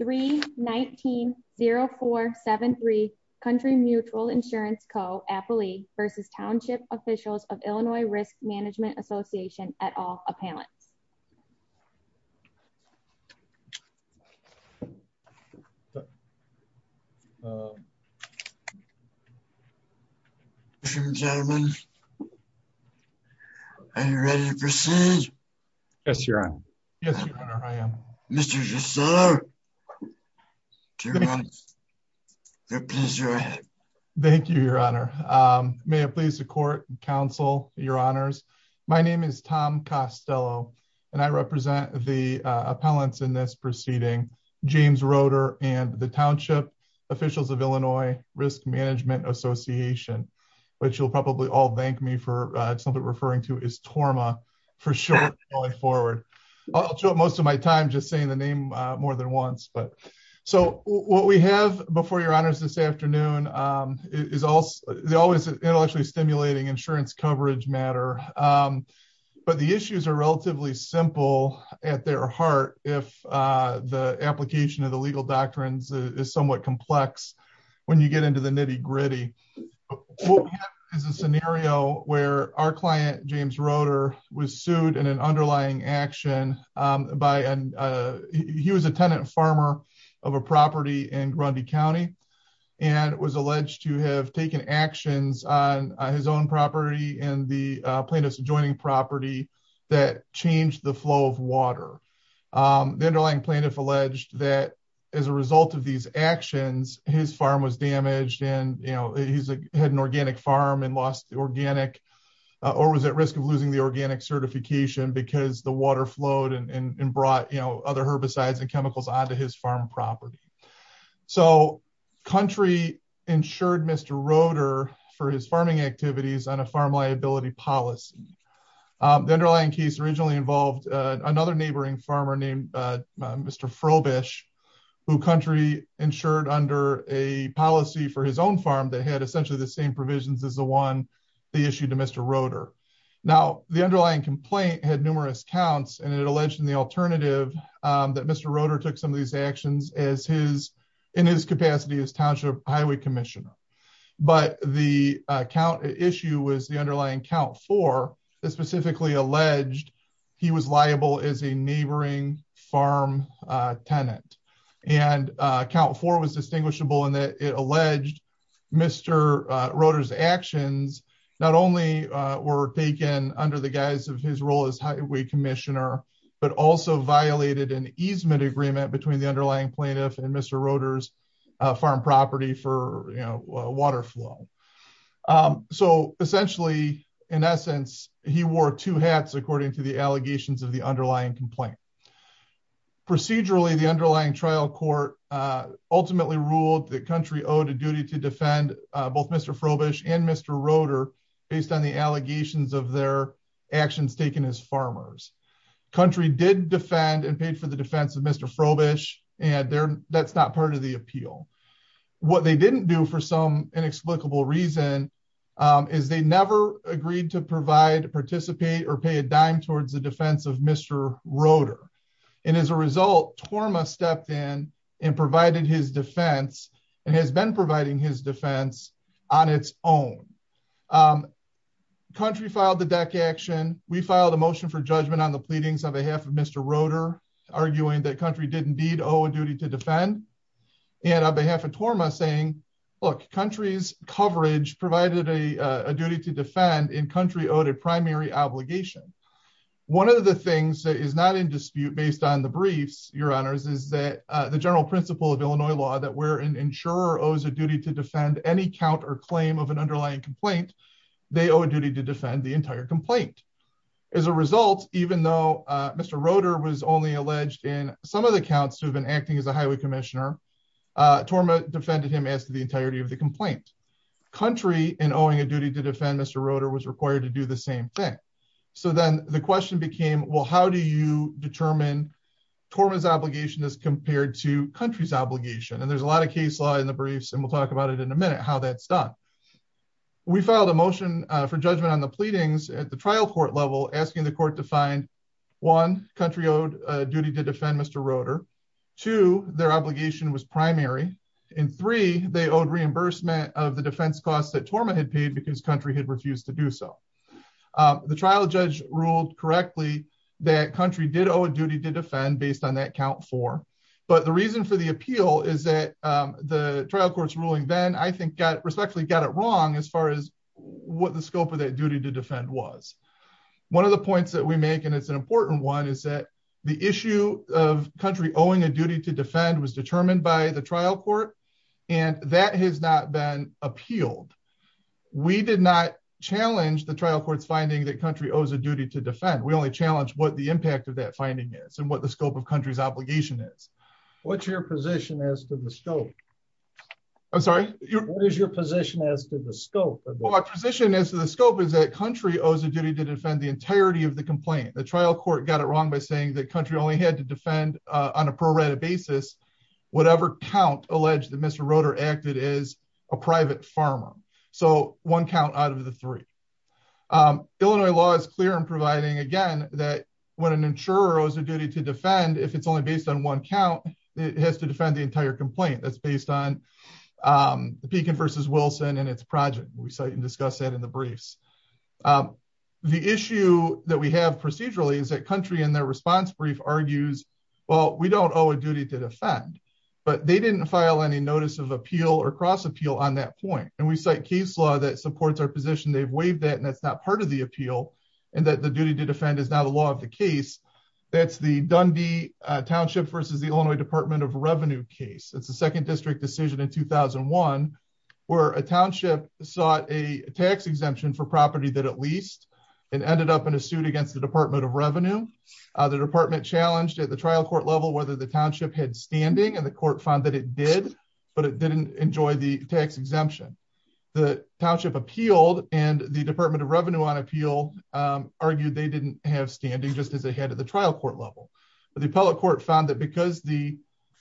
319-0473 Country Mutual Insurance Co. vs. Township Officials of Illinois Risk Management Your Honor, there appears to your ahead. Thank you, your Honor. May it please the Court and Counsel, Your Honors, my name is Tom Costello, and I represent the appellants in this proceeding. James Roder and the Township Officials of Illinois Risk Management Association, which you'll probably all thank me for it's not referring to is TORMA, for short, my forward. I'll show up most of my time just saying the name more than once. But so what we have before your honors this afternoon is always intellectually stimulating insurance coverage matter. But the issues are relatively simple at their heart. If the application of the legal doctrines is somewhat complex, when you get into the nitty gritty, What we have is a scenario where our client, James Roder, was sued in an underlying action by a, he was a tenant farmer of a property in Grundy County, and was alleged to have taken actions on his own property and the plaintiff's adjoining property that changed the flow of water. The underlying plaintiff alleged that as a result of these actions, his farm was damaged and, you know, he's had an organic farm and lost the organic, or was at risk of losing the organic certification because the water flowed and brought, you know, other herbicides and chemicals onto his farm property. So, country insured Mr. Roder for his farming activities on a farm liability policy. The underlying case originally involved another neighboring farmer named Mr. Frobisch, who country insured under a policy for his own farm that had essentially the same provisions as the one they issued to Mr. Roder. Now, the underlying complaint had numerous counts and it alleged in the alternative that Mr. Roder took some of these actions as his, in his capacity as Township Highway Commissioner. But the count issue was the underlying count four that specifically alleged he was liable as a neighboring farm tenant. And count four was distinguishable in that it alleged Mr. Roder's actions not only were taken under the guise of his role as Highway Commissioner, but also violated an easement agreement between the underlying plaintiff and Mr. Roder's farm property for, you know, water flow. So, essentially, in essence, he wore two hats according to the allegations of the underlying complaint. Procedurally, the underlying trial court ultimately ruled that country owed a duty to defend both Mr. Frobisch and Mr. Roder based on the allegations of their actions taken as farmers. Country did defend and paid for the defense of Mr. Frobisch, and that's not part of the appeal. What they didn't do for some inexplicable reason is they never agreed to provide, participate, or pay a dime towards the defense of Mr. Roder. And as a result, TORMA stepped in and provided his defense and has been providing his defense on its own. Country filed the DEC action. We filed a motion for judgment on the pleadings on behalf of Mr. Roder, arguing that country did indeed owe a duty to defend. And on behalf of TORMA saying, look, country's coverage provided a duty to defend and country owed a primary obligation. One of the things that is not in dispute based on the briefs, Your Honors, is that the general principle of Illinois law that where an insurer owes a duty to defend any count or claim of an underlying complaint, they owe a duty to defend the entire complaint. As a result, even though Mr. Roder was only alleged in some of the counts who have been acting as a highway commissioner, TORMA defended him as to the entirety of the complaint. Country, in owing a duty to defend Mr. Roder, was required to do the same thing. So then the question became, well, how do you determine TORMA's obligation as compared to country's obligation? And there's a lot of case law in the briefs, and we'll talk about it in a minute, how that's done. We filed a motion for judgment on the pleadings at the trial court level asking the court to find, one, country owed a duty to defend Mr. Roder. Two, their obligation was primary. And three, they owed reimbursement of the defense costs that TORMA had paid because country had refused to do so. The trial judge ruled correctly that country did owe a duty to defend based on that count four. But the reason for the appeal is that the trial court's ruling then, I think, respectfully got it wrong as far as what the scope of that duty to defend was. One of the points that we make, and it's an important one, is that the issue of country owing a duty to defend was determined by the trial court, and that has not been appealed. We did not challenge the trial court's finding that country owes a duty to defend. We only challenged what the impact of that finding is and what the scope of country's obligation is. What's your position as to the scope? I'm sorry? What is your position as to the scope? Well, my position as to the scope is that country owes a duty to defend the entirety of the complaint. The trial court got it wrong by saying that country only had to defend on a pro rata basis whatever count alleged that Mr. Roder acted as a private farmer. So, one count out of the three. Illinois law is clear in providing, again, that when an insurer owes a duty to defend, if it's only based on one count, it has to defend the entire complaint. That's based on the Pekin v. Wilson and its project. We cite and discuss that in the briefs. The issue that we have procedurally is that country in their response brief argues, well, we don't owe a duty to defend, but they didn't file any notice of appeal or cross appeal on that point. And we cite case law that supports our position. They've waived that, and that's not part of the appeal, and that the duty to defend is not a law of the case. That's the Dundee Township v. Illinois Department of Revenue case. It's a second district decision in 2001 where a township sought a tax exemption for property that it leased and ended up in a suit against the Department of Revenue. The department challenged at the trial court level whether the township had standing, and the court found that it did, but it didn't enjoy the tax exemption. The township appealed, and the Department of Revenue on appeal argued they didn't have standing, just as they had at the trial court level. But the appellate court found that because the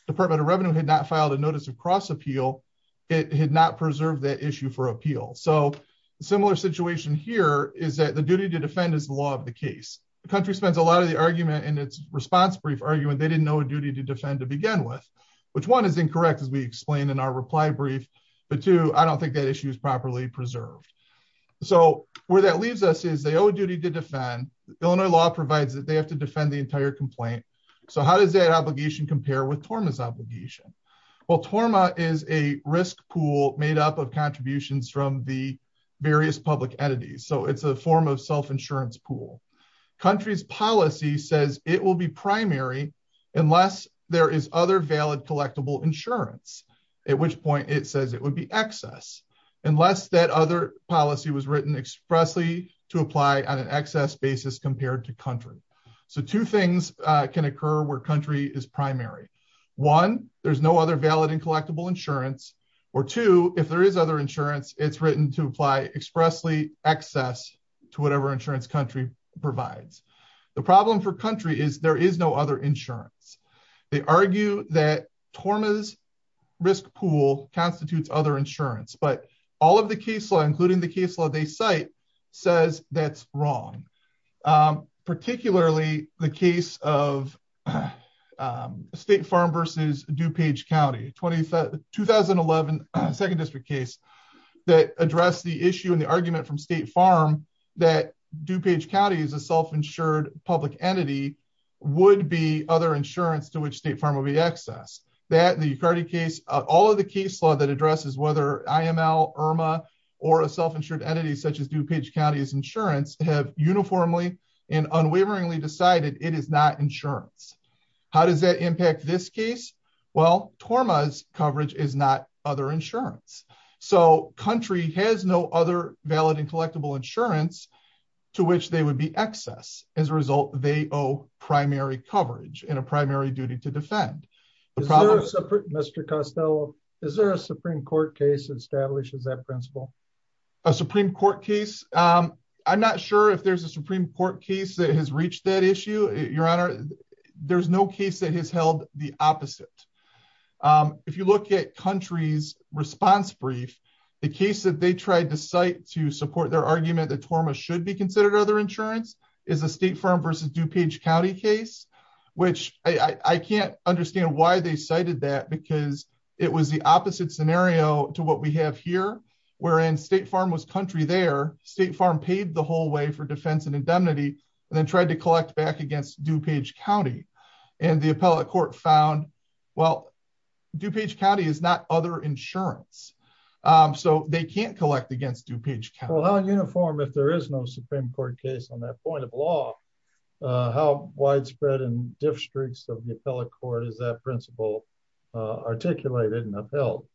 Department of Revenue had not filed a notice of cross appeal, it had not preserved that issue for appeal. So, a similar situation here is that the duty to defend is the law of the case. The country spends a lot of the argument in its response brief arguing they didn't owe a duty to defend to begin with, which, one, is incorrect, as we explained in our reply brief. But, two, I don't think that issue is properly preserved. So, where that leaves us is they owe a duty to defend. Illinois law provides that they have to defend the entire complaint. So, how does that obligation compare with TORMA's obligation? Well, TORMA is a risk pool made up of contributions from the various public entities. So, it's a form of self-insurance pool. A country's policy says it will be primary unless there is other valid collectible insurance, at which point it says it would be excess, unless that other policy was written expressly to apply on an excess basis compared to country. So, two things can occur where country is primary. One, there's no other valid and collectible insurance. Or, two, if there is other insurance, it's written to apply expressly excess to whatever insurance country provides. The problem for country is there is no other insurance. They argue that TORMA's risk pool constitutes other insurance, but all of the case law, including the case law they cite, says that's wrong. Particularly the case of State Farm versus DuPage County. 2011 Second District case that addressed the issue and the argument from State Farm that DuPage County is a self-insured public entity would be other insurance to which State Farm would be excess. All of the case law that addresses whether IML, IRMA, or a self-insured entity such as DuPage County's insurance have uniformly and unwaveringly decided it is not insurance. How does that impact this case? Well, TORMA's coverage is not other insurance. So, country has no other valid and collectible insurance to which they would be excess. As a result, they owe primary coverage and a primary duty to defend. Mr. Costello, is there a Supreme Court case that establishes that principle? A Supreme Court case? I'm not sure if there's a Supreme Court case that has reached that issue. Your Honor, there's no case that has held the opposite. If you look at country's response brief, the case that they tried to cite to support their argument that TORMA should be considered other insurance is a State Farm versus DuPage County case, which I can't understand why they cited that because it was the opposite scenario to what we have here. Whereas State Farm was country there, State Farm paid the whole way for defense and indemnity, and then tried to collect back against DuPage County. And the appellate court found, well, DuPage County is not other insurance. So, they can't collect against DuPage County. Well, how uniform, if there is no Supreme Court case on that point of law, how widespread in districts of the appellate court is that principle articulated and upheld?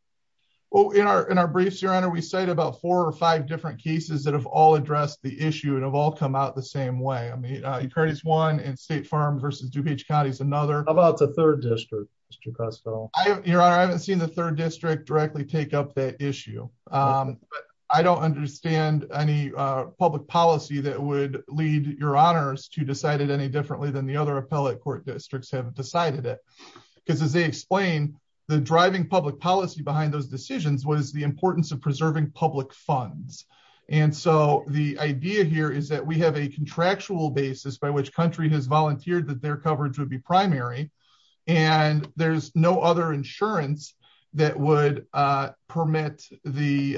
Well, in our briefs, Your Honor, we cite about four or five different cases that have all addressed the issue and have all come out the same way. I mean, Euclid is one and State Farm versus DuPage County is another. How about the third district, Mr. Costello? Your Honor, I haven't seen the third district directly take up that issue. I don't understand any public policy that would lead Your Honors to decide it any differently than the other appellate court districts have decided it. Because as they explain, the driving public policy behind those decisions was the importance of preserving public funds. And so, the idea here is that we have a contractual basis by which country has volunteered that their coverage would be primary. And there's no other insurance that would permit the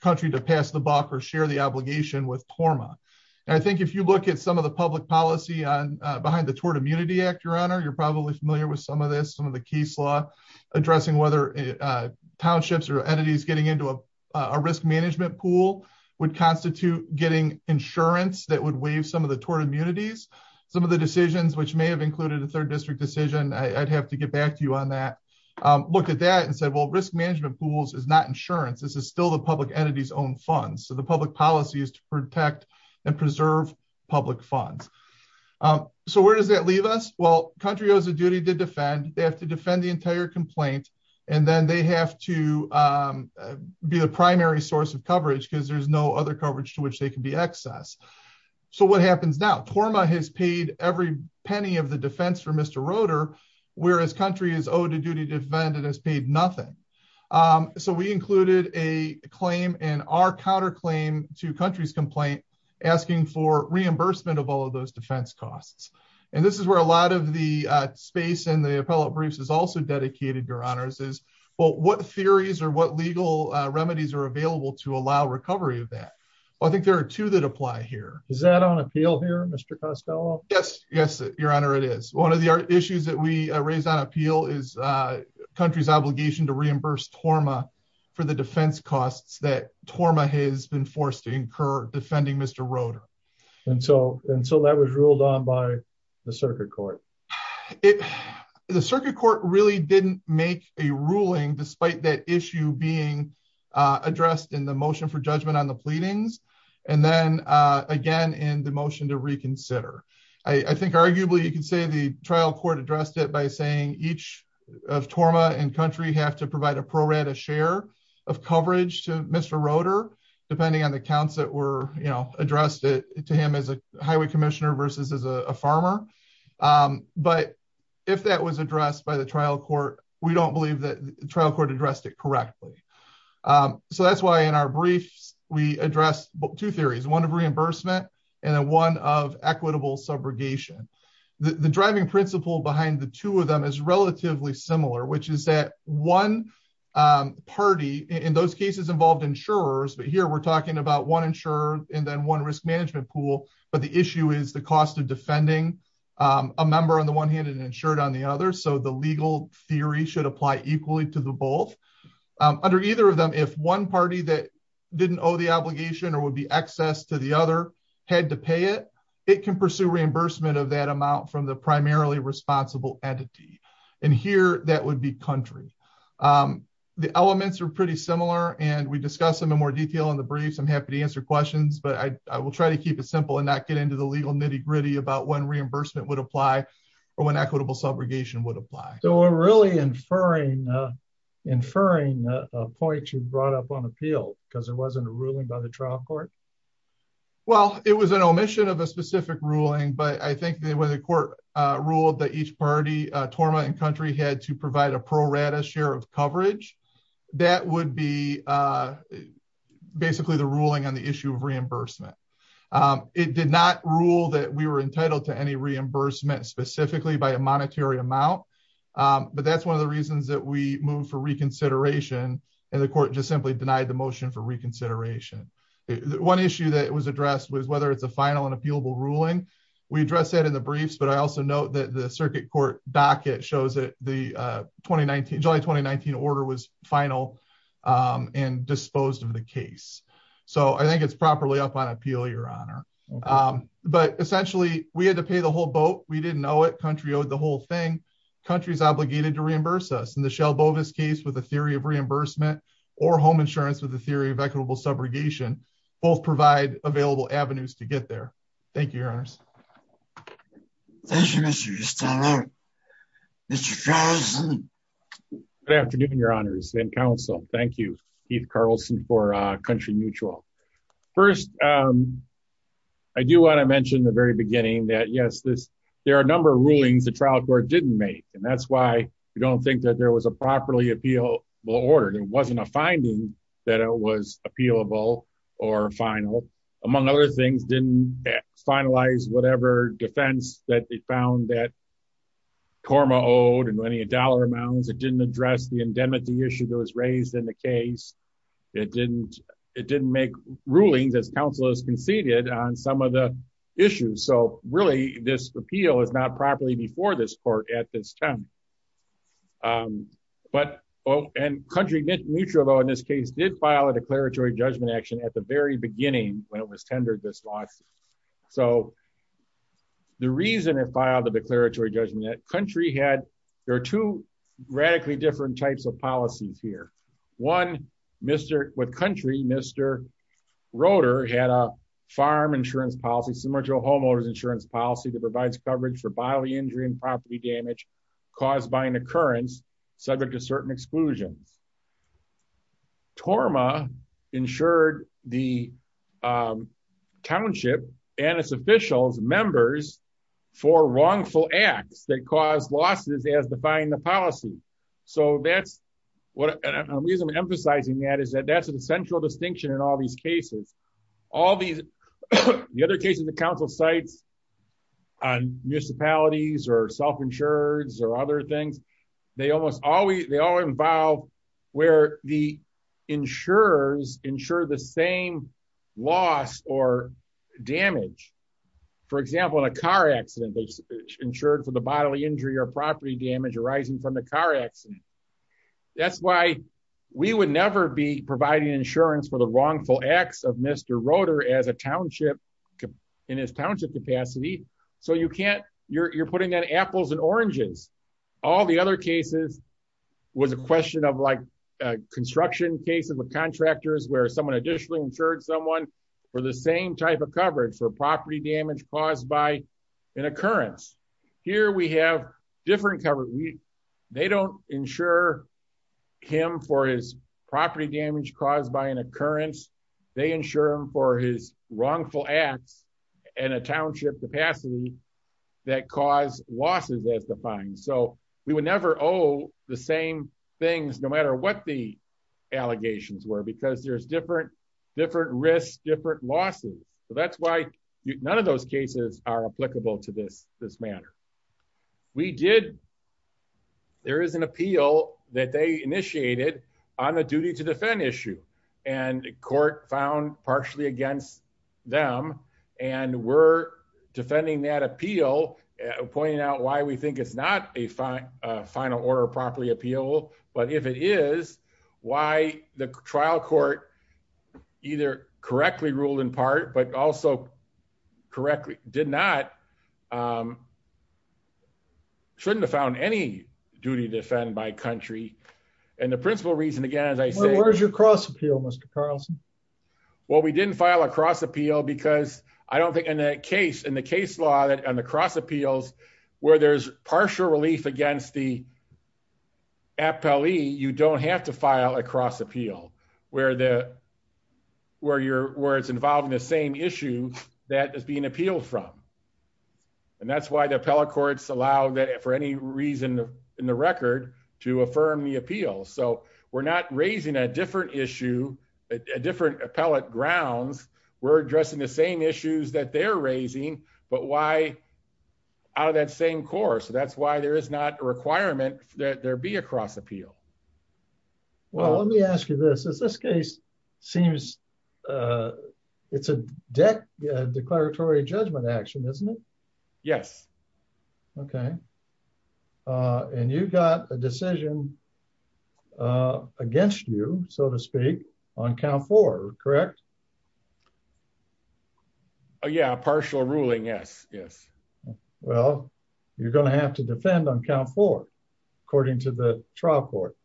country to pass the buck or share the obligation with PORMA. And I think if you look at some of the public policy behind the Tort Immunity Act, Your Honor, you're probably familiar with some of this. Some of the case law addressing whether townships or entities getting into a risk management pool would constitute getting insurance that would waive some of the tort immunities. Some of the decisions, which may have included a third district decision, I'd have to get back to you on that, looked at that and said, well, risk management pools is not insurance. This is still the public entity's own funds. So, the public policy is to protect and preserve public funds. So, where does that leave us? Well, country owes a duty to defend. They have to defend the entire complaint. And then they have to be the primary source of coverage because there's no other coverage to which they can be accessed. So, what happens now? PORMA has paid every penny of the defense for Mr. Roeder, whereas country is owed a duty to defend and has paid nothing. So, we included a claim in our counterclaim to country's complaint asking for reimbursement of all of those defense costs. And this is where a lot of the space in the appellate briefs is also dedicated, Your Honor. It says, well, what theories or what legal remedies are available to allow recovery of that? Well, I think there are two that apply here. Is that on appeal here, Mr. Costello? Yes. Yes, Your Honor, it is. One of the issues that we raised on appeal is country's obligation to reimburse PORMA for the defense costs that PORMA has been forced to incur defending Mr. Roeder. And so, that was ruled on by the circuit court. The circuit court really didn't make a ruling despite that issue being addressed in the motion for judgment on the pleadings. And then, again, in the motion to reconsider. I think arguably you can say the trial court addressed it by saying each of PORMA and country have to provide a pro-rata share of coverage to Mr. Roeder, depending on the counts that were, you know, addressed to him as a highway commissioner versus as a farmer. But if that was addressed by the trial court, we don't believe that the trial court addressed it correctly. So, that's why in our briefs we addressed two theories, one of reimbursement and one of equitable subrogation. The driving principle behind the two of them is relatively similar, which is that one party in those cases involved insurers. But here we're talking about one insurer and then one risk management pool. But the issue is the cost of defending a member on the one hand and insured on the other. So, the legal theory should apply equally to the both. Under either of them, if one party that didn't owe the obligation or would be excess to the other had to pay it, it can pursue reimbursement of that amount from the primarily responsible entity. And here that would be country. The elements are pretty similar and we discuss them in more detail in the briefs. I'm happy to answer questions, but I will try to keep it simple and not get into the legal nitty gritty about when reimbursement would apply or when equitable subrogation would apply. So, we're really inferring a point you brought up on appeal because it wasn't a ruling by the trial court? Well, it was an omission of a specific ruling, but I think when the court ruled that each party, torment and country, had to provide a pro rata share of coverage, that would be basically the ruling on the issue of reimbursement. It did not rule that we were entitled to any reimbursement specifically by a monetary amount, but that's one of the reasons that we moved for reconsideration and the court just simply denied the motion for reconsideration. One issue that was addressed was whether it's a final and appealable ruling. We address that in the briefs, but I also note that the circuit court docket shows that the July 2019 order was final and disposed of the case. So, I think it's properly up on appeal, your honor. But, essentially, we had to pay the whole boat. We didn't owe it. Country owed the whole thing. Country is obligated to reimburse us. In the Shell-Bovis case with the theory of reimbursement or home insurance with the theory of equitable subrogation, both provide available avenues to get there. Thank you, your honors. Thank you, Mr. Stahler. Mr. Carlson. Good afternoon, your honors and counsel. Thank you, Keith Carlson, for Country Mutual. First, I do want to mention at the very beginning that, yes, there are a number of rulings the trial court didn't make, and that's why we don't think that there was a properly appealable order. There wasn't a finding that it was appealable or final. Among other things, didn't finalize whatever defense that they found that Korma owed in any dollar amounts. It didn't address the indemnity issue that was raised in the case. It didn't make rulings, as counsel has conceded, on some of the issues. So, really, this appeal is not properly before this court at this time. But, oh, and Country Mutual, though, in this case, did file a declaratory judgment action at the very beginning when it was tendered this lawsuit. So, the reason it filed the declaratory judgment, Country had, there are two radically different types of policies here. One, with Country, Mr. Roeder had a farm insurance policy, similar to a homeowner's insurance policy, that provides coverage for bodily injury and property damage caused by an occurrence subject to certain exclusions. Korma insured the township and its officials, members, for wrongful acts that caused losses as defined in the policy. So, that's, and the reason I'm emphasizing that is that that's an essential distinction in all these cases. All these, the other cases that counsel cites on municipalities or self-insureds or other things, they almost always, they all involve where the insurers insure the same loss or damage. For example, in a car accident, they insured for the bodily injury or property damage arising from the car accident. That's why we would never be providing insurance for the wrongful acts of Mr. Roeder as a township, in his township capacity, so you can't, you're putting on apples and oranges. All the other cases was a question of like construction cases with contractors where someone additionally insured someone for the same type of coverage for property damage caused by an occurrence. Here we have different coverage. They don't insure him for his property damage caused by an occurrence. They insure him for his wrongful acts in a township capacity that caused losses as defined. So, we would never owe the same things, no matter what the allegations were, because there's different risks, different losses. So, that's why none of those cases are applicable to this matter. We did, there is an appeal that they initiated on the duty to defend issue, and court found partially against them, and we're defending that appeal, pointing out why we think it's not a final order of property appeal, but if it is, why the trial court either correctly ruled in part, but also correctly did not shouldn't have found any duty to defend my country. And the principal reason again as I say, where's your cross appeal Mr Carlson. Well, we didn't file a cross appeal because I don't think in that case in the case law that and the cross appeals, where there's partial relief against the you don't have to file a cross appeal, where the, where you're, where it's involved in the same issue that is being appealed from. And that's why the appellate courts allow that for any reason in the record to affirm the appeal so we're not raising a different issue, a different appellate grounds were addressing the same issues that they're raising, but why out of that same course so that's why there is not a requirement that there be a cross appeal. Well, let me ask you this is this case seems. It's a deck declaratory judgment action, isn't it. Yes. Okay. And you've got a decision against you, so to speak, on count for correct. Oh yeah partial ruling yes, yes. Well, you're going to have to defend on count for according to the trial court.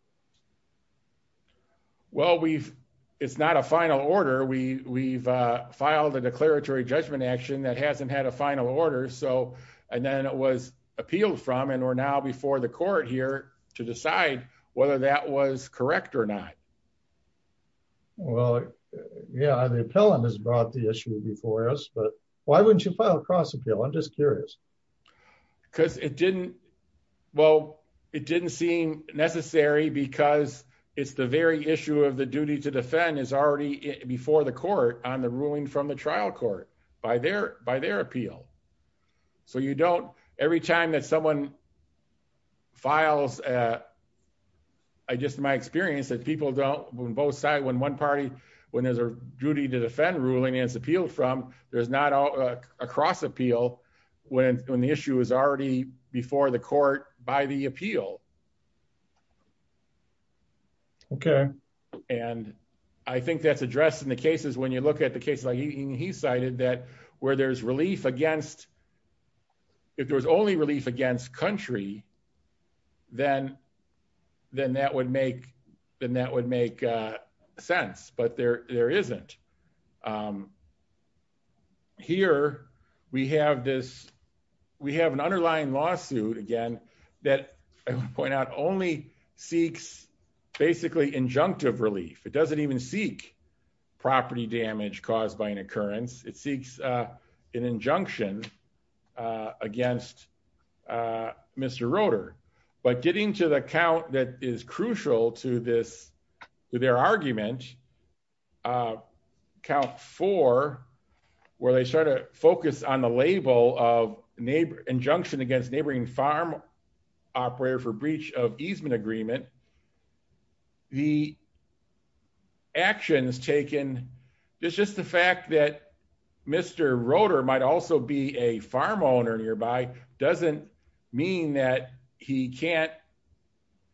Well we've, it's not a final order we we've filed a declaratory judgment action that hasn't had a final order so, and then it was appealed from and we're now before the court here to decide whether that was correct or not. Well, yeah the appellant has brought the issue before us but why wouldn't you file a cross appeal I'm just curious, because it didn't. Well, it didn't seem necessary because it's the very issue of the duty to defend is already before the court on the ruling from the trial court by their by their appeal. So you don't every time that someone files. I just my experience that people don't both side when one party, when there's a duty to defend ruling is appealed from there's not a cross appeal. When, when the issue is already before the court by the appeal. Okay. And I think that's addressed in the cases when you look at the case like he cited that where there's relief against. If there was only relief against country, then, then that would make the net would make sense but there, there isn't. Here we have this. We have an underlying lawsuit again that point out only seeks basically injunctive relief, it doesn't even seek property damage caused by an occurrence, it seeks an injunction against Mr rotor, but getting to the account that is crucial to this to their argument. Count for where they start to focus on the label of neighbor injunction against neighboring farm operator for breach of easement agreement. The actions taken. It's just the fact that Mr rotor might also be a farm owner nearby doesn't mean that he can't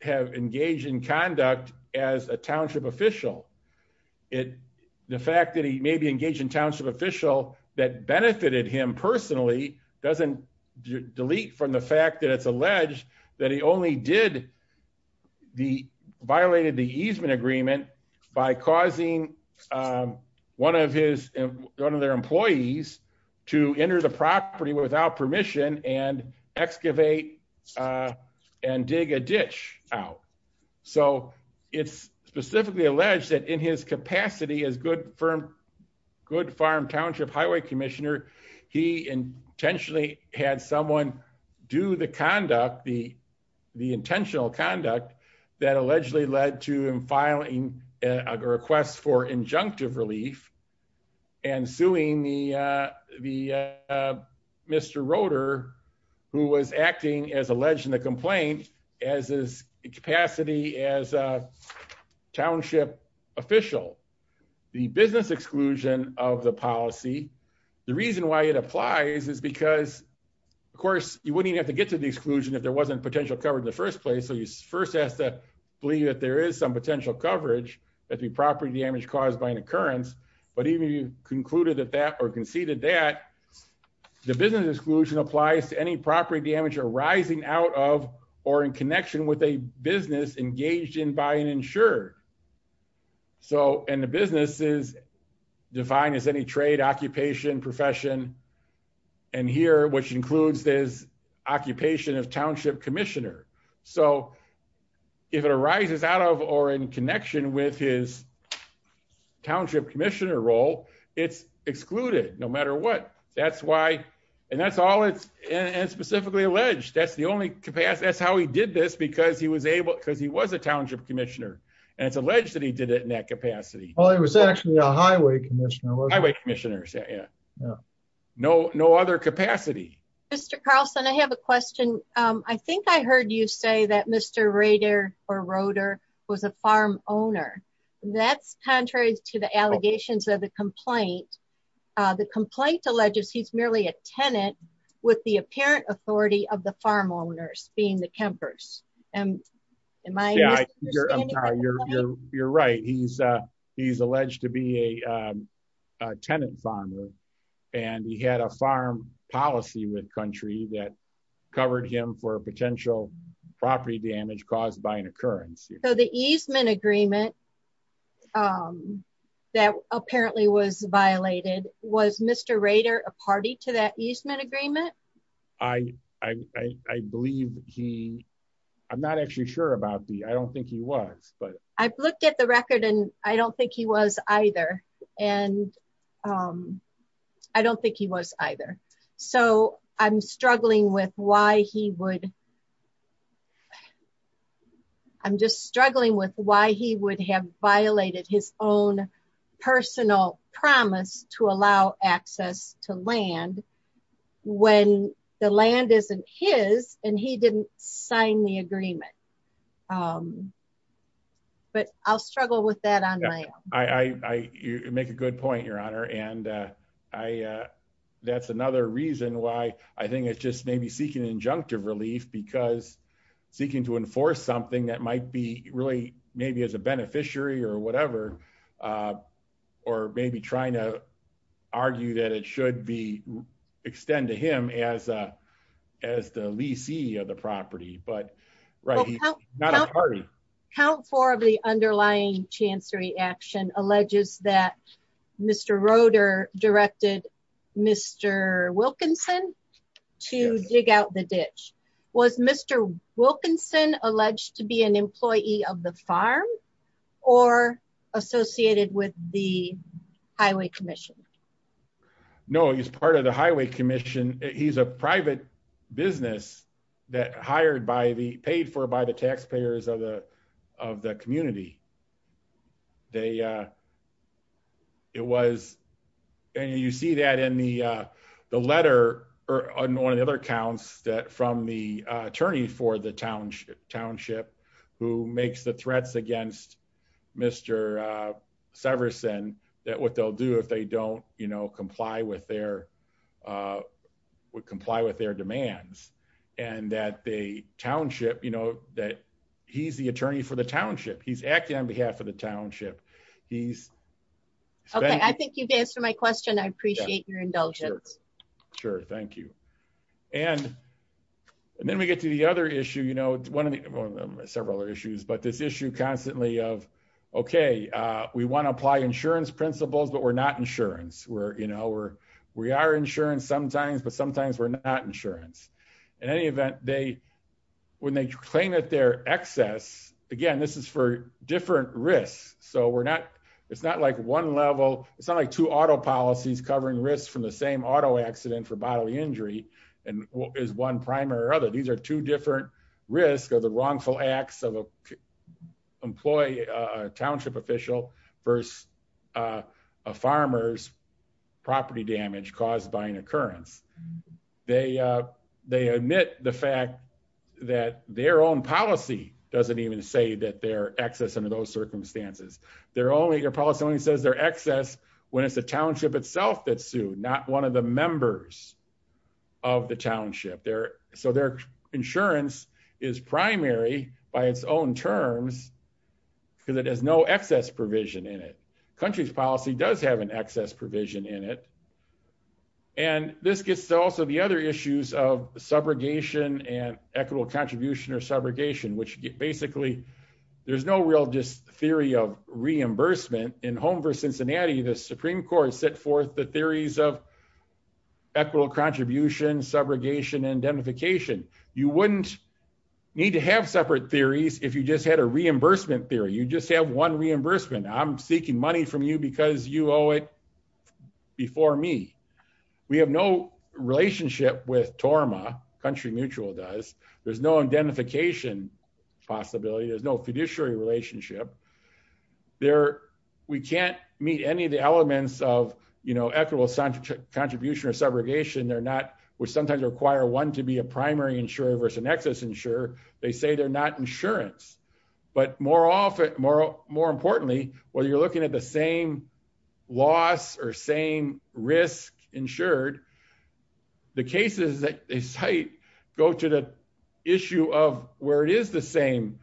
have engaged in conduct as a township official it. The fact that he may be engaged in township official that benefited him personally doesn't delete from the fact that it's alleged that he only did the violated the easement agreement by causing one of his, one of their employees to enter the property without permission and excavate and dig a ditch out. So, it's specifically alleged that in his capacity as good firm good farm township highway commissioner. He intentionally had someone do the conduct the, the intentional conduct that allegedly led to him filing a request for injunctive relief and suing the, the. Mr rotor, who was acting as alleged in the complaint as his capacity as a township official. The business exclusion of the policy. The reason why it applies is because, of course, you wouldn't have to get to the exclusion if there wasn't potential covered in the first place so you first has to believe that there is some potential coverage that the property damage caused by an occurrence, but even you concluded that that are conceded that the business exclusion applies to any property damage arising out of, or in connection with a business engaged in by an insurer. So, and the business is defined as any trade occupation profession. And here, which includes this occupation of township commissioner. So, if it arises out of or in connection with his township commissioner role, it's excluded, no matter what, that's why. And that's all it's specifically alleged that's the only capacity that's how he did this because he was able because he was a township commissioner, and it's alleged that he did it in that capacity. Oh, it was actually a highway commission highway commissioners. Yeah. No, no other capacity. Mr Carlson I have a question. I think I heard you say that Mr radar or rotor was a farm owner. That's contrary to the allegations of the complaint. The complaint alleges he's merely a tenant with the apparent authority of the farm owners, being the campus. And in my. You're right, he's, he's alleged to be a tenant farmer, and he had a farm policy with country that covered him for potential property damage caused by an occurrence, so the easement agreement that apparently was violated was Mr radar, a party to that easement agreement. I, I believe he. I'm not actually sure about the I don't think he was, but I've looked at the record and I don't think he was either. And I don't think he was either. So, I'm struggling with why he would. I'm just struggling with why he would have violated his own personal promise to allow access to land. When the land isn't his, and he didn't sign the agreement. But I'll struggle with that on my, I make a good point your honor and I. That's another reason why I think it's just maybe seeking injunctive relief because seeking to enforce something that might be really maybe as a beneficiary or whatever. Or maybe trying to argue that it should be extend to him as a, as the VC of the property but right now. Count four of the underlying chancery action alleges that Mr rotor directed Mr. Wilkinson to dig out the ditch was Mr. Wilkinson alleged to be an employee of the farm, or associated with the highway commission. No, he's part of the highway commission. He's a private business that hired by the paid for by the taxpayers of the, of the community. They. It was. And you see that in the, the letter, or on the other accounts that from the attorney for the township township, who makes the threats against Mr. Severson that what they'll do if they don't, you know, comply with their would comply with their demands, and that the township you know that he's the attorney for the township he's acting on behalf of the township. He's. I think you've answered my question I appreciate your indulgence. Sure, thank you. And then we get to the other issue you know one of the several issues but this issue constantly of. Okay, we want to apply insurance principles but we're not insurance where you know where we are insurance sometimes but sometimes we're not insurance. In any event, they, when they claim that their excess. Again, this is for different risks, so we're not. It's not like one level, it's not like to auto policies covering risks from the same auto accident for bodily injury, and is one primary other So these are two different risk of the wrongful acts of employee township official first farmers property damage caused by an occurrence. They, they admit the fact that their own policy doesn't even say that their access under those circumstances, they're only your policy only says their excess when it's a township itself that soon not one of the members of the township there, so their insurance is primary by its own terms, because it has no excess provision in it countries policy does have an excess provision in it. And this gets to also the other issues of subrogation and equitable contribution or subrogation which basically, there's no real just theory of reimbursement in home versus Cincinnati the Supreme Court set forth the theories of equitable contribution subrogation and identification, you wouldn't need to have separate theories, if you just had a reimbursement theory you just have one reimbursement I'm seeking money from you because you owe it before me. We have no relationship with Torma country mutual does, there's no identification possibility there's no fiduciary relationship there. We can't meet any of the elements of, you know, equitable contribution or subrogation they're not, which sometimes require one to be a primary insurer versus an excess insurer, they say they're not insurance, but more often, more, more importantly, whether you're looking at the same loss or same risk insured. The cases that they cite go to the issue of where it is the same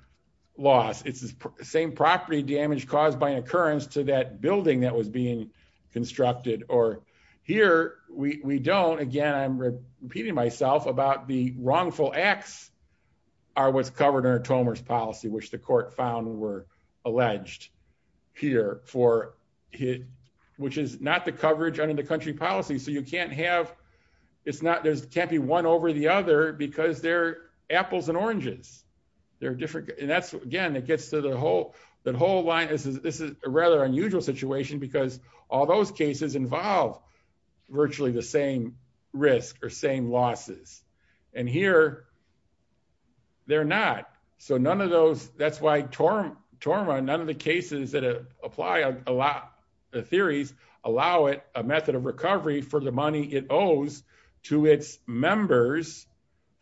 loss, it's the same property damage caused by an occurrence to that building that was being constructed or here, we don't again I'm repeating myself about the wrongful acts are what's covered policy which the court found were alleged here for hit, which is not the coverage under the country policy so you can't have. It's not there's can't be one over the other because they're apples and oranges. They're different. And that's, again, it gets to the whole, the whole line is this is a rather unusual situation because all those cases involve virtually the same risk or same losses. And here, they're not. So none of those, that's why Torma, none of the cases that apply a lot of theories, allow it a method of recovery for the money it owes to its members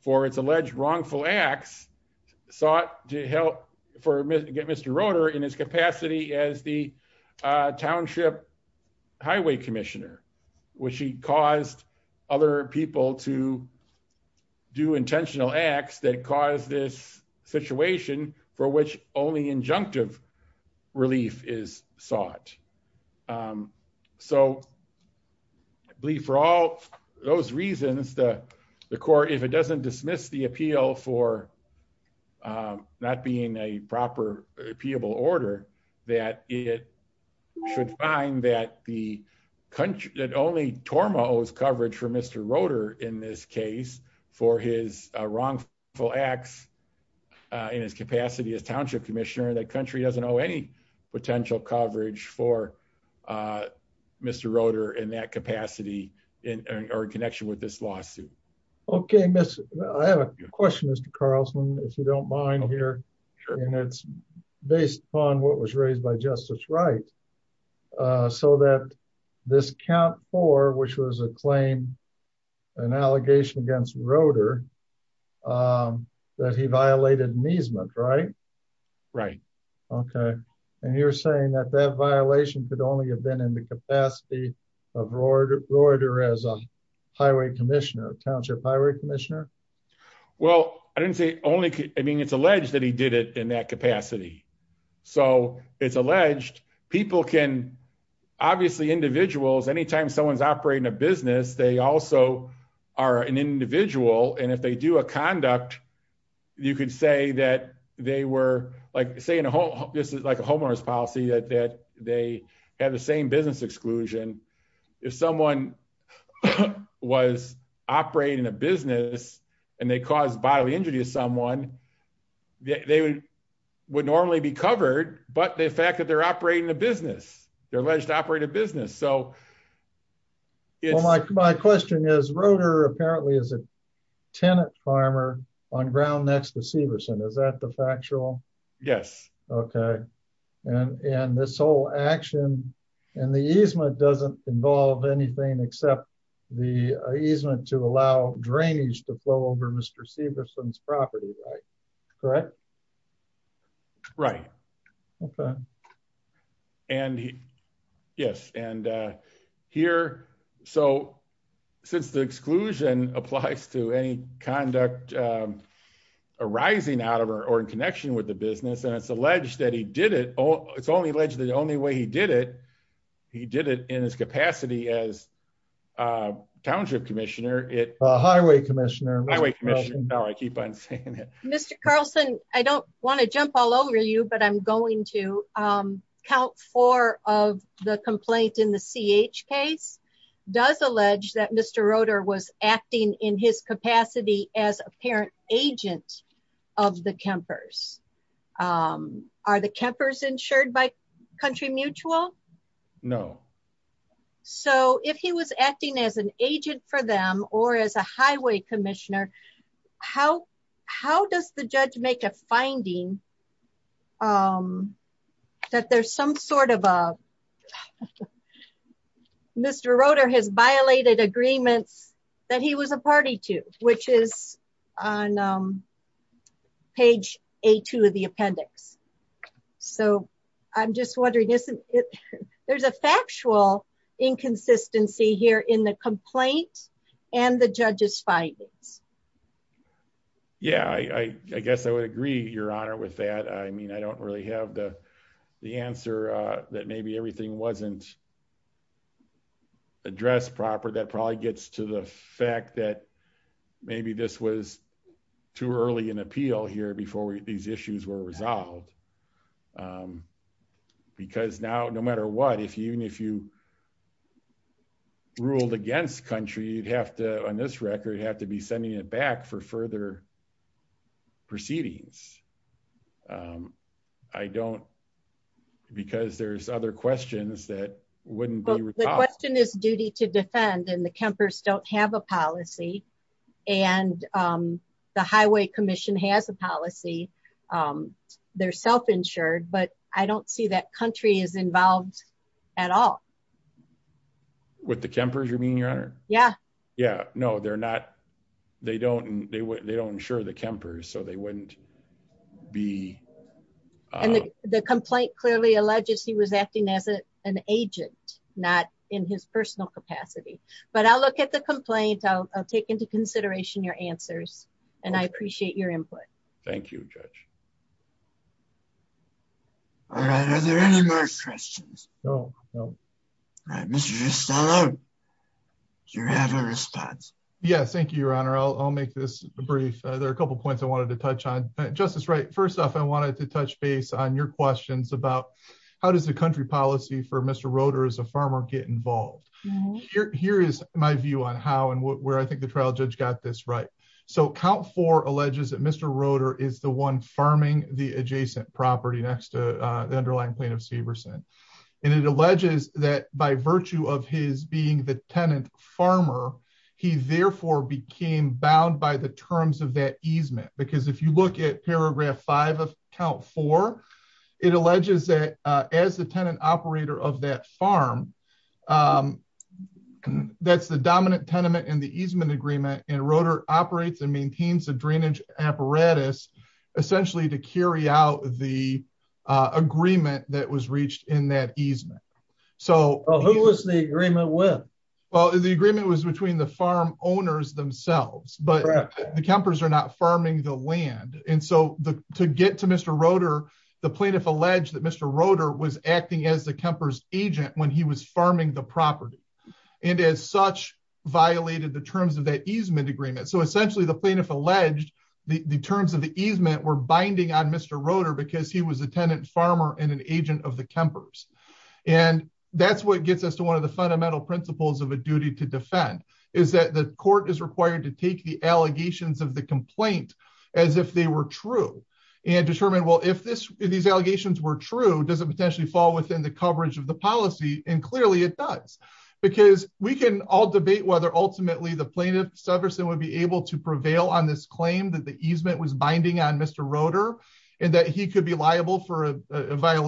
for its alleged wrongful acts, sought to help for Mr. in his capacity as the township highway commissioner, which he caused other people to do intentional acts that cause this situation for which only injunctive relief is sought. So, I believe for all those reasons that the court if it doesn't dismiss the appeal for not being a proper people order that it should find that the country that only Torma owes coverage for Mr rotor in this case for his wrongful acts in his capacity as township commissioner that country doesn't know any potential coverage for Mr rotor in that capacity in our connection with this lawsuit. Okay, miss. I have a question as to Carlson, if you don't mind here. And it's based on what was raised by justice right so that this count for which was a claim and allegation against rotor that he violated measement right right. Okay. And you're saying that that violation could only have been in the capacity of order order as a highway commissioner township highway commissioner. Well, I didn't say only I mean it's alleged that he did it in that capacity. So, it's alleged people can obviously individuals anytime someone's operating a business they also are an individual and if they do a conduct. You could say that they were like saying a whole, this is like a homeowner's policy that they have the same business exclusion. If someone was operating a business, and they cause bodily injury to someone, they would normally be covered, but the fact that they're operating a business, they're alleged to operate a business so it's like my question is rotor apparently is a tenant farmer on ground next to Severson is that the factual. Yes. Okay. And, and this whole action, and the easement doesn't involve anything except the easement to allow drainage to flow over Mr Severson's property. Correct. Right. Okay. And, yes, and here. So, since the exclusion applies to any conduct arising out of or in connection with the business and it's alleged that he did it all, it's only allegedly the only way he did it. He did it in his capacity as township commissioner it highway Commissioner Highway Commission. Mr Carlson, I don't want to jump all over you but I'm going to count for of the complaint in the CH case does allege that Mr rotor was acting in his capacity as a parent agent of the campers are the campers insured by country mutual. No. So if he was acting as an agent for them, or as a highway commissioner. How, how does the judge make a finding that there's some sort of Mr rotor has violated agreements that he was a party to, which is on page, a two of the appendix. So, I'm just wondering, isn't it. There's a factual inconsistency here in the complaint, and the judges findings. Yeah, I guess I would agree, Your Honor with that I mean I don't really have the, the answer that maybe everything wasn't addressed proper that probably gets to the fact that maybe this was too early and appeal here before these issues were resolved. Because now no matter what if you and if you ruled against country you'd have to on this record have to be sending it back for further proceedings. I don't. Because there's other questions that wouldn't be the question is duty to defend and the campers don't have a policy, and the highway commission has a policy. They're self insured but I don't see that country is involved at all. With the campers you're being your honor. Yeah, yeah, no they're not. They don't, they wouldn't they don't ensure the campers so they wouldn't be the complaint clearly alleges he was acting as an agent, not in his personal capacity, but I'll look at the complaint I'll take into consideration your answers, and I appreciate your input. Thank you. Thank you, Judge. Are there any more questions. You have a response. Yes, thank you, Your Honor, I'll make this brief, there are a couple points I wanted to touch on justice right first off I wanted to touch base on your questions about how does the country policy for Mr rotors a farmer get involved. Here is my view on how and where I think the trial judge got this right. So count for alleges that Mr rotor is the one farming, the adjacent property next to the underlying plaintiff Seberson, and it alleges that by virtue of his being the tenant farmer. He therefore became bound by the terms of that easement because if you look at paragraph five of count for it alleges that as the tenant operator of that farm. That's the dominant tenement and the easement agreement and rotor operates and maintains the drainage apparatus, essentially to carry out the agreement that was reached in that easement. So, who was the agreement with. Well, the agreement was between the farm owners themselves but the campers are not farming the land, and so the to get to Mr rotor. The plaintiff alleged that Mr rotor was acting as the campers agent when he was farming the property. And as such, violated the terms of that easement agreement so essentially the plaintiff alleged the terms of the easement we're binding on Mr rotor because he was a tenant farmer and an agent of the campers. And that's what gets us to one of the fundamental principles of a duty to defend is that the court is required to take the allegations of the complaint, as if they were true and determine well if this is these allegations were true doesn't potentially fall within the coverage of the policy, and clearly it does, because we can all debate whether ultimately the plaintiff stuffers that would be able to prevail on this claim that the easement was binding on Mr rotor, and that he could be liable for a about a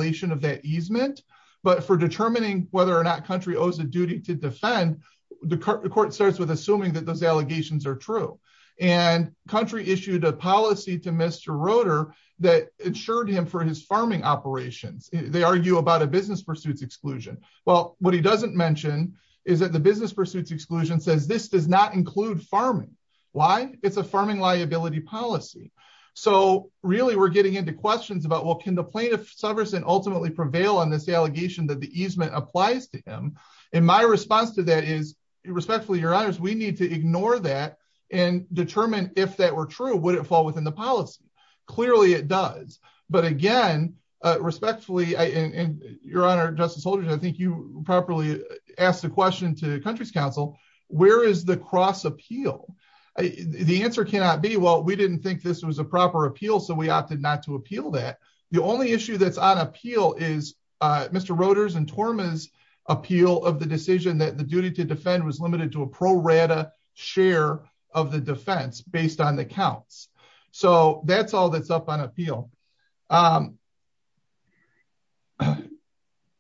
business pursuits exclusion. Well, what he doesn't mention is that the business pursuits exclusion says this does not include farming. Why it's a farming liability policy. So, really we're getting into questions about what can the plaintiff servers and ultimately prevail on this allegation that the easement applies to him. And my response to that is respectfully your honors we need to ignore that and determine if that were true would it fall within the policy. Clearly it does. But again, respectfully, I in your honor Justice Holder I think you properly asked the question to the country's Council, where is the cross appeal. The answer cannot be well we didn't think this was a proper appeal so we opted not to appeal that the only issue that's on appeal is Mr rotors and torments appeal of the decision that the duty to defend was limited to a pro rata share of the defense based on the counts. So that's all that's up on appeal.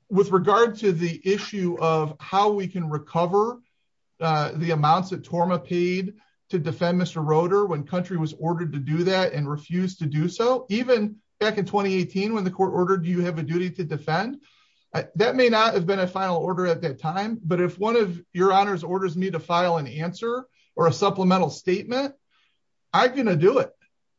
With regard to the issue of how we can recover the amounts of trauma paid to defend Mr rotor when country was ordered to do that and refuse to do so, even back in 2018 when the court ordered you have a duty to defend that may not have been a final order at that time, but if one of your honors orders me to file an answer or a supplemental statement. I'm going to do it.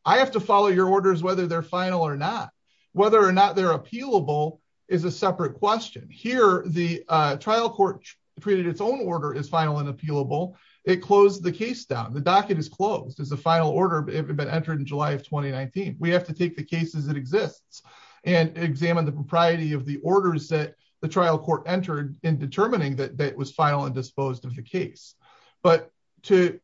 I have to follow your orders whether they're final or not, whether or not they're appealable is a separate question here, the trial court created its own order is final and appealable it closed the case down the docket is closed as a final order but entered in July of 2019, we have to take the cases that exists and examine the propriety of the orders that the trial court entered in determining that that was final and disposed of the case, but to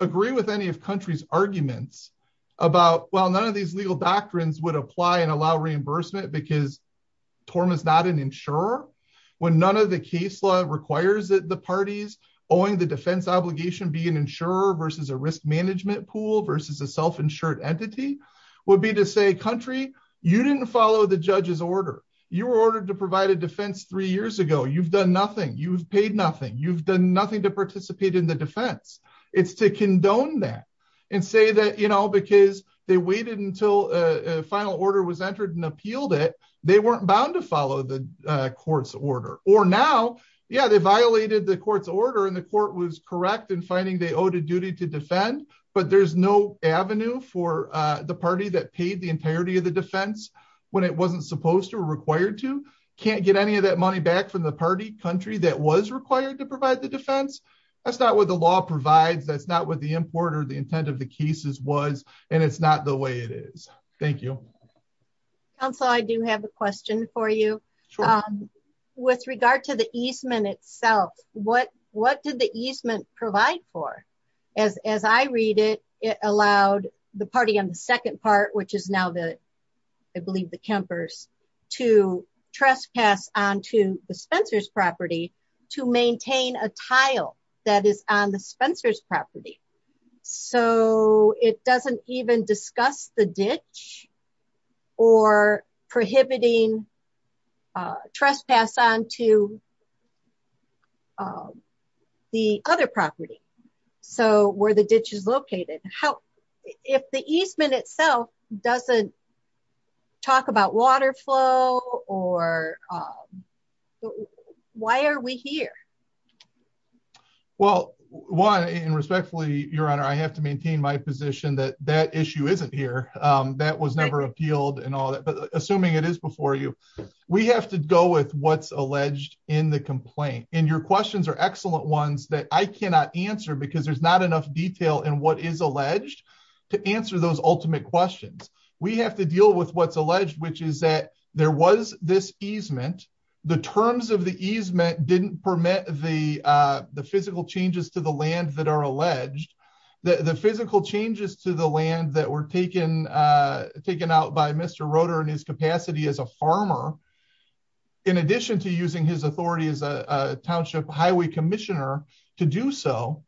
agree with any of countries arguments about well none of these legal doctrines would apply and allow reimbursement because Torma is not an insurer. When none of the case law requires that the parties, owing the defense obligation be an insurer versus a risk management pool versus a self insured entity would be to say country, you didn't follow the judge's order, you were ordered to provide a defense three years ago you've done nothing you've paid nothing you've done nothing to participate in the defense, it's to condone that and say that you know because they waited until final order was entered and appealed it, they weren't bound to follow the court's order, or now. Yeah, they violated the court's order and the court was correct in finding they owed a duty to defend, but there's no avenue for the party that paid the entirety of the defense, when it wasn't supposed to required to can't get any of that money back from the party country that was required to provide the defense. That's not what the law provides that's not what the importer the intent of the cases was, and it's not the way it is. Thank you. So I do have a question for you. With regard to the easement itself, what, what did the easement provide for as as I read it, it allowed the party on the second part which is now that I believe the campers to trespass on to the Spencer's property to maintain a tile that is on the Spencer's property. So, it doesn't even discuss the ditch or prohibiting trespass on to the other property. So where the ditch is located, how if the easement itself doesn't talk about water flow, or. Why are we here. Well, why and respectfully, Your Honor, I have to maintain my position that that issue isn't here. That was never appealed and all that but assuming it is before you. We have to go with what's alleged in the complaint in your questions are excellent ones that I cannot answer because there's not enough detail and what is alleged to answer those We have to deal with what's alleged which is that there was this easement. The terms of the easement didn't permit the, the physical changes to the land that are alleged that the physical changes to the land that were taken, taken out by Mr rotor and his capacity as a farmer. In addition to using his authority as a township highway commissioner to do so,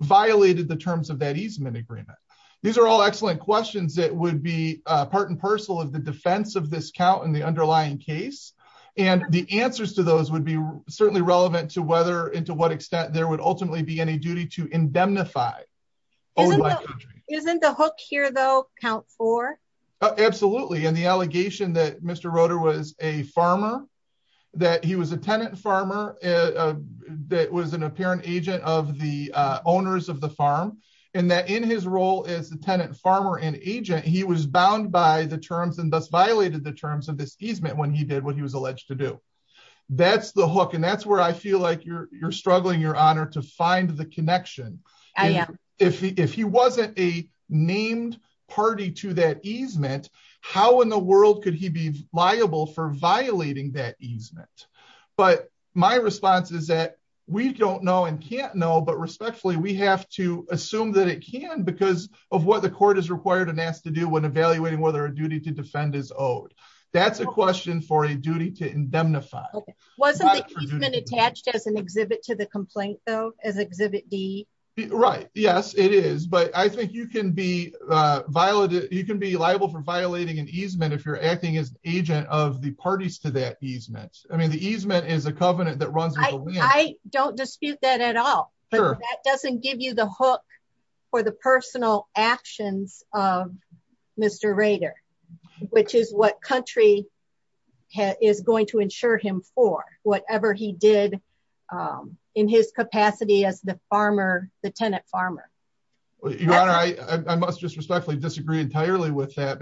violated the terms of that easement agreement. These are all excellent questions that would be part and parcel of the defense of this count and the underlying case, and the answers to those would be certainly relevant to whether into what extent there would ultimately be any duty to indemnify. Isn't the hook here though count for absolutely and the allegation that Mr rotor was a farmer, that he was a tenant farmer. That was an apparent agent of the owners of the farm, and that in his role as the tenant farmer and agent he was bound by the terms and thus violated the terms of this easement when he did what he was alleged to do. That's the hook and that's where I feel like you're struggling your honor to find the connection. If he wasn't a named party to that easement. How in the world could he be liable for violating that easement. But my response is that we don't know and can't know but respectfully we have to assume that it can because of what the court is required and asked to do when evaluating whether a duty to defend is owed. That's a question for a duty to indemnify wasn't attached as an exhibit to the complaint, though, as Exhibit D. Right. Yes, it is but I think you can be violated, you can be liable for violating an easement if you're acting as an agent of the parties to that easement, I mean the easement is a covenant that runs. I don't dispute that at all. That doesn't give you the hook for the personal actions of Mr Rader, which is what country is going to ensure him for whatever he did in his capacity as the farmer, the tenant farmer. I must just respectfully disagree entirely with that.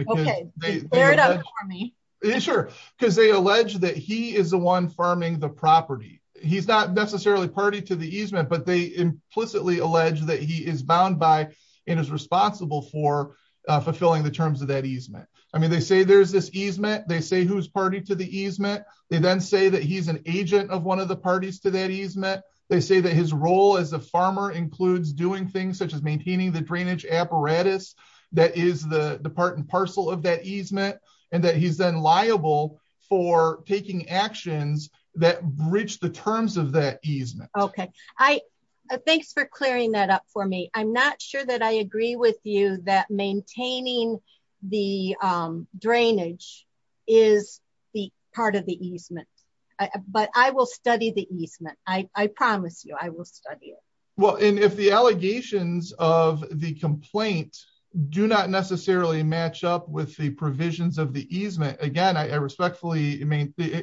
Sure, because they allege that he is the one farming the property, he's not necessarily party to the easement but they implicitly allege that he is bound by and is responsible for fulfilling the terms of that easement. I mean they say there's this easement they say who's party to the easement, they then say that he's an agent of one of the parties to that easement, they say that his role as a farmer includes doing things such as maintaining the drainage apparatus. That is the part and parcel of that easement, and that he's then liable for taking actions that reach the terms of that easement. Okay, I thanks for clearing that up for me, I'm not sure that I agree with you that maintaining the drainage is the part of the easement, but I will study the easement, I promise you I will study it. Well, and if the allegations of the complaint, do not necessarily match up with the provisions of the easement again I respectfully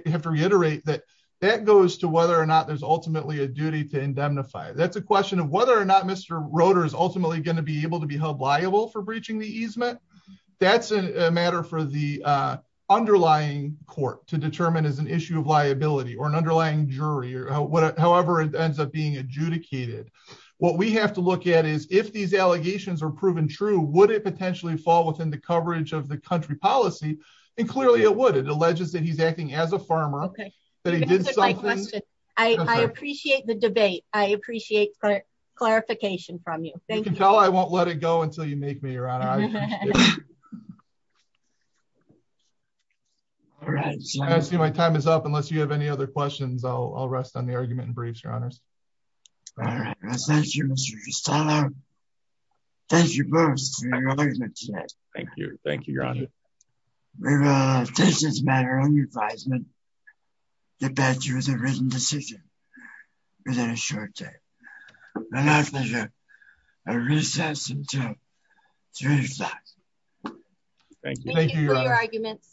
have to reiterate that that goes to whether or not there's ultimately a duty to indemnify that's a question of whether or not Mr rotors ultimately going to be able to be held liable for breaching the easement. That's a matter for the underlying court to determine as an issue of liability or an underlying jury or whatever, however, it ends up being adjudicated. What we have to look at is if these allegations are proven true would it potentially fall within the coverage of the country policy, and clearly it would it alleges that he's acting as a farmer. Okay. I appreciate the debate. I appreciate clarification from you. Thank you. I won't let it go until you make me around. All right, so I see my time is up unless you have any other questions I'll rest on the argument and briefs your honors. Thank you. Thank you. Thank you. Thank you. Thank you. Thank you.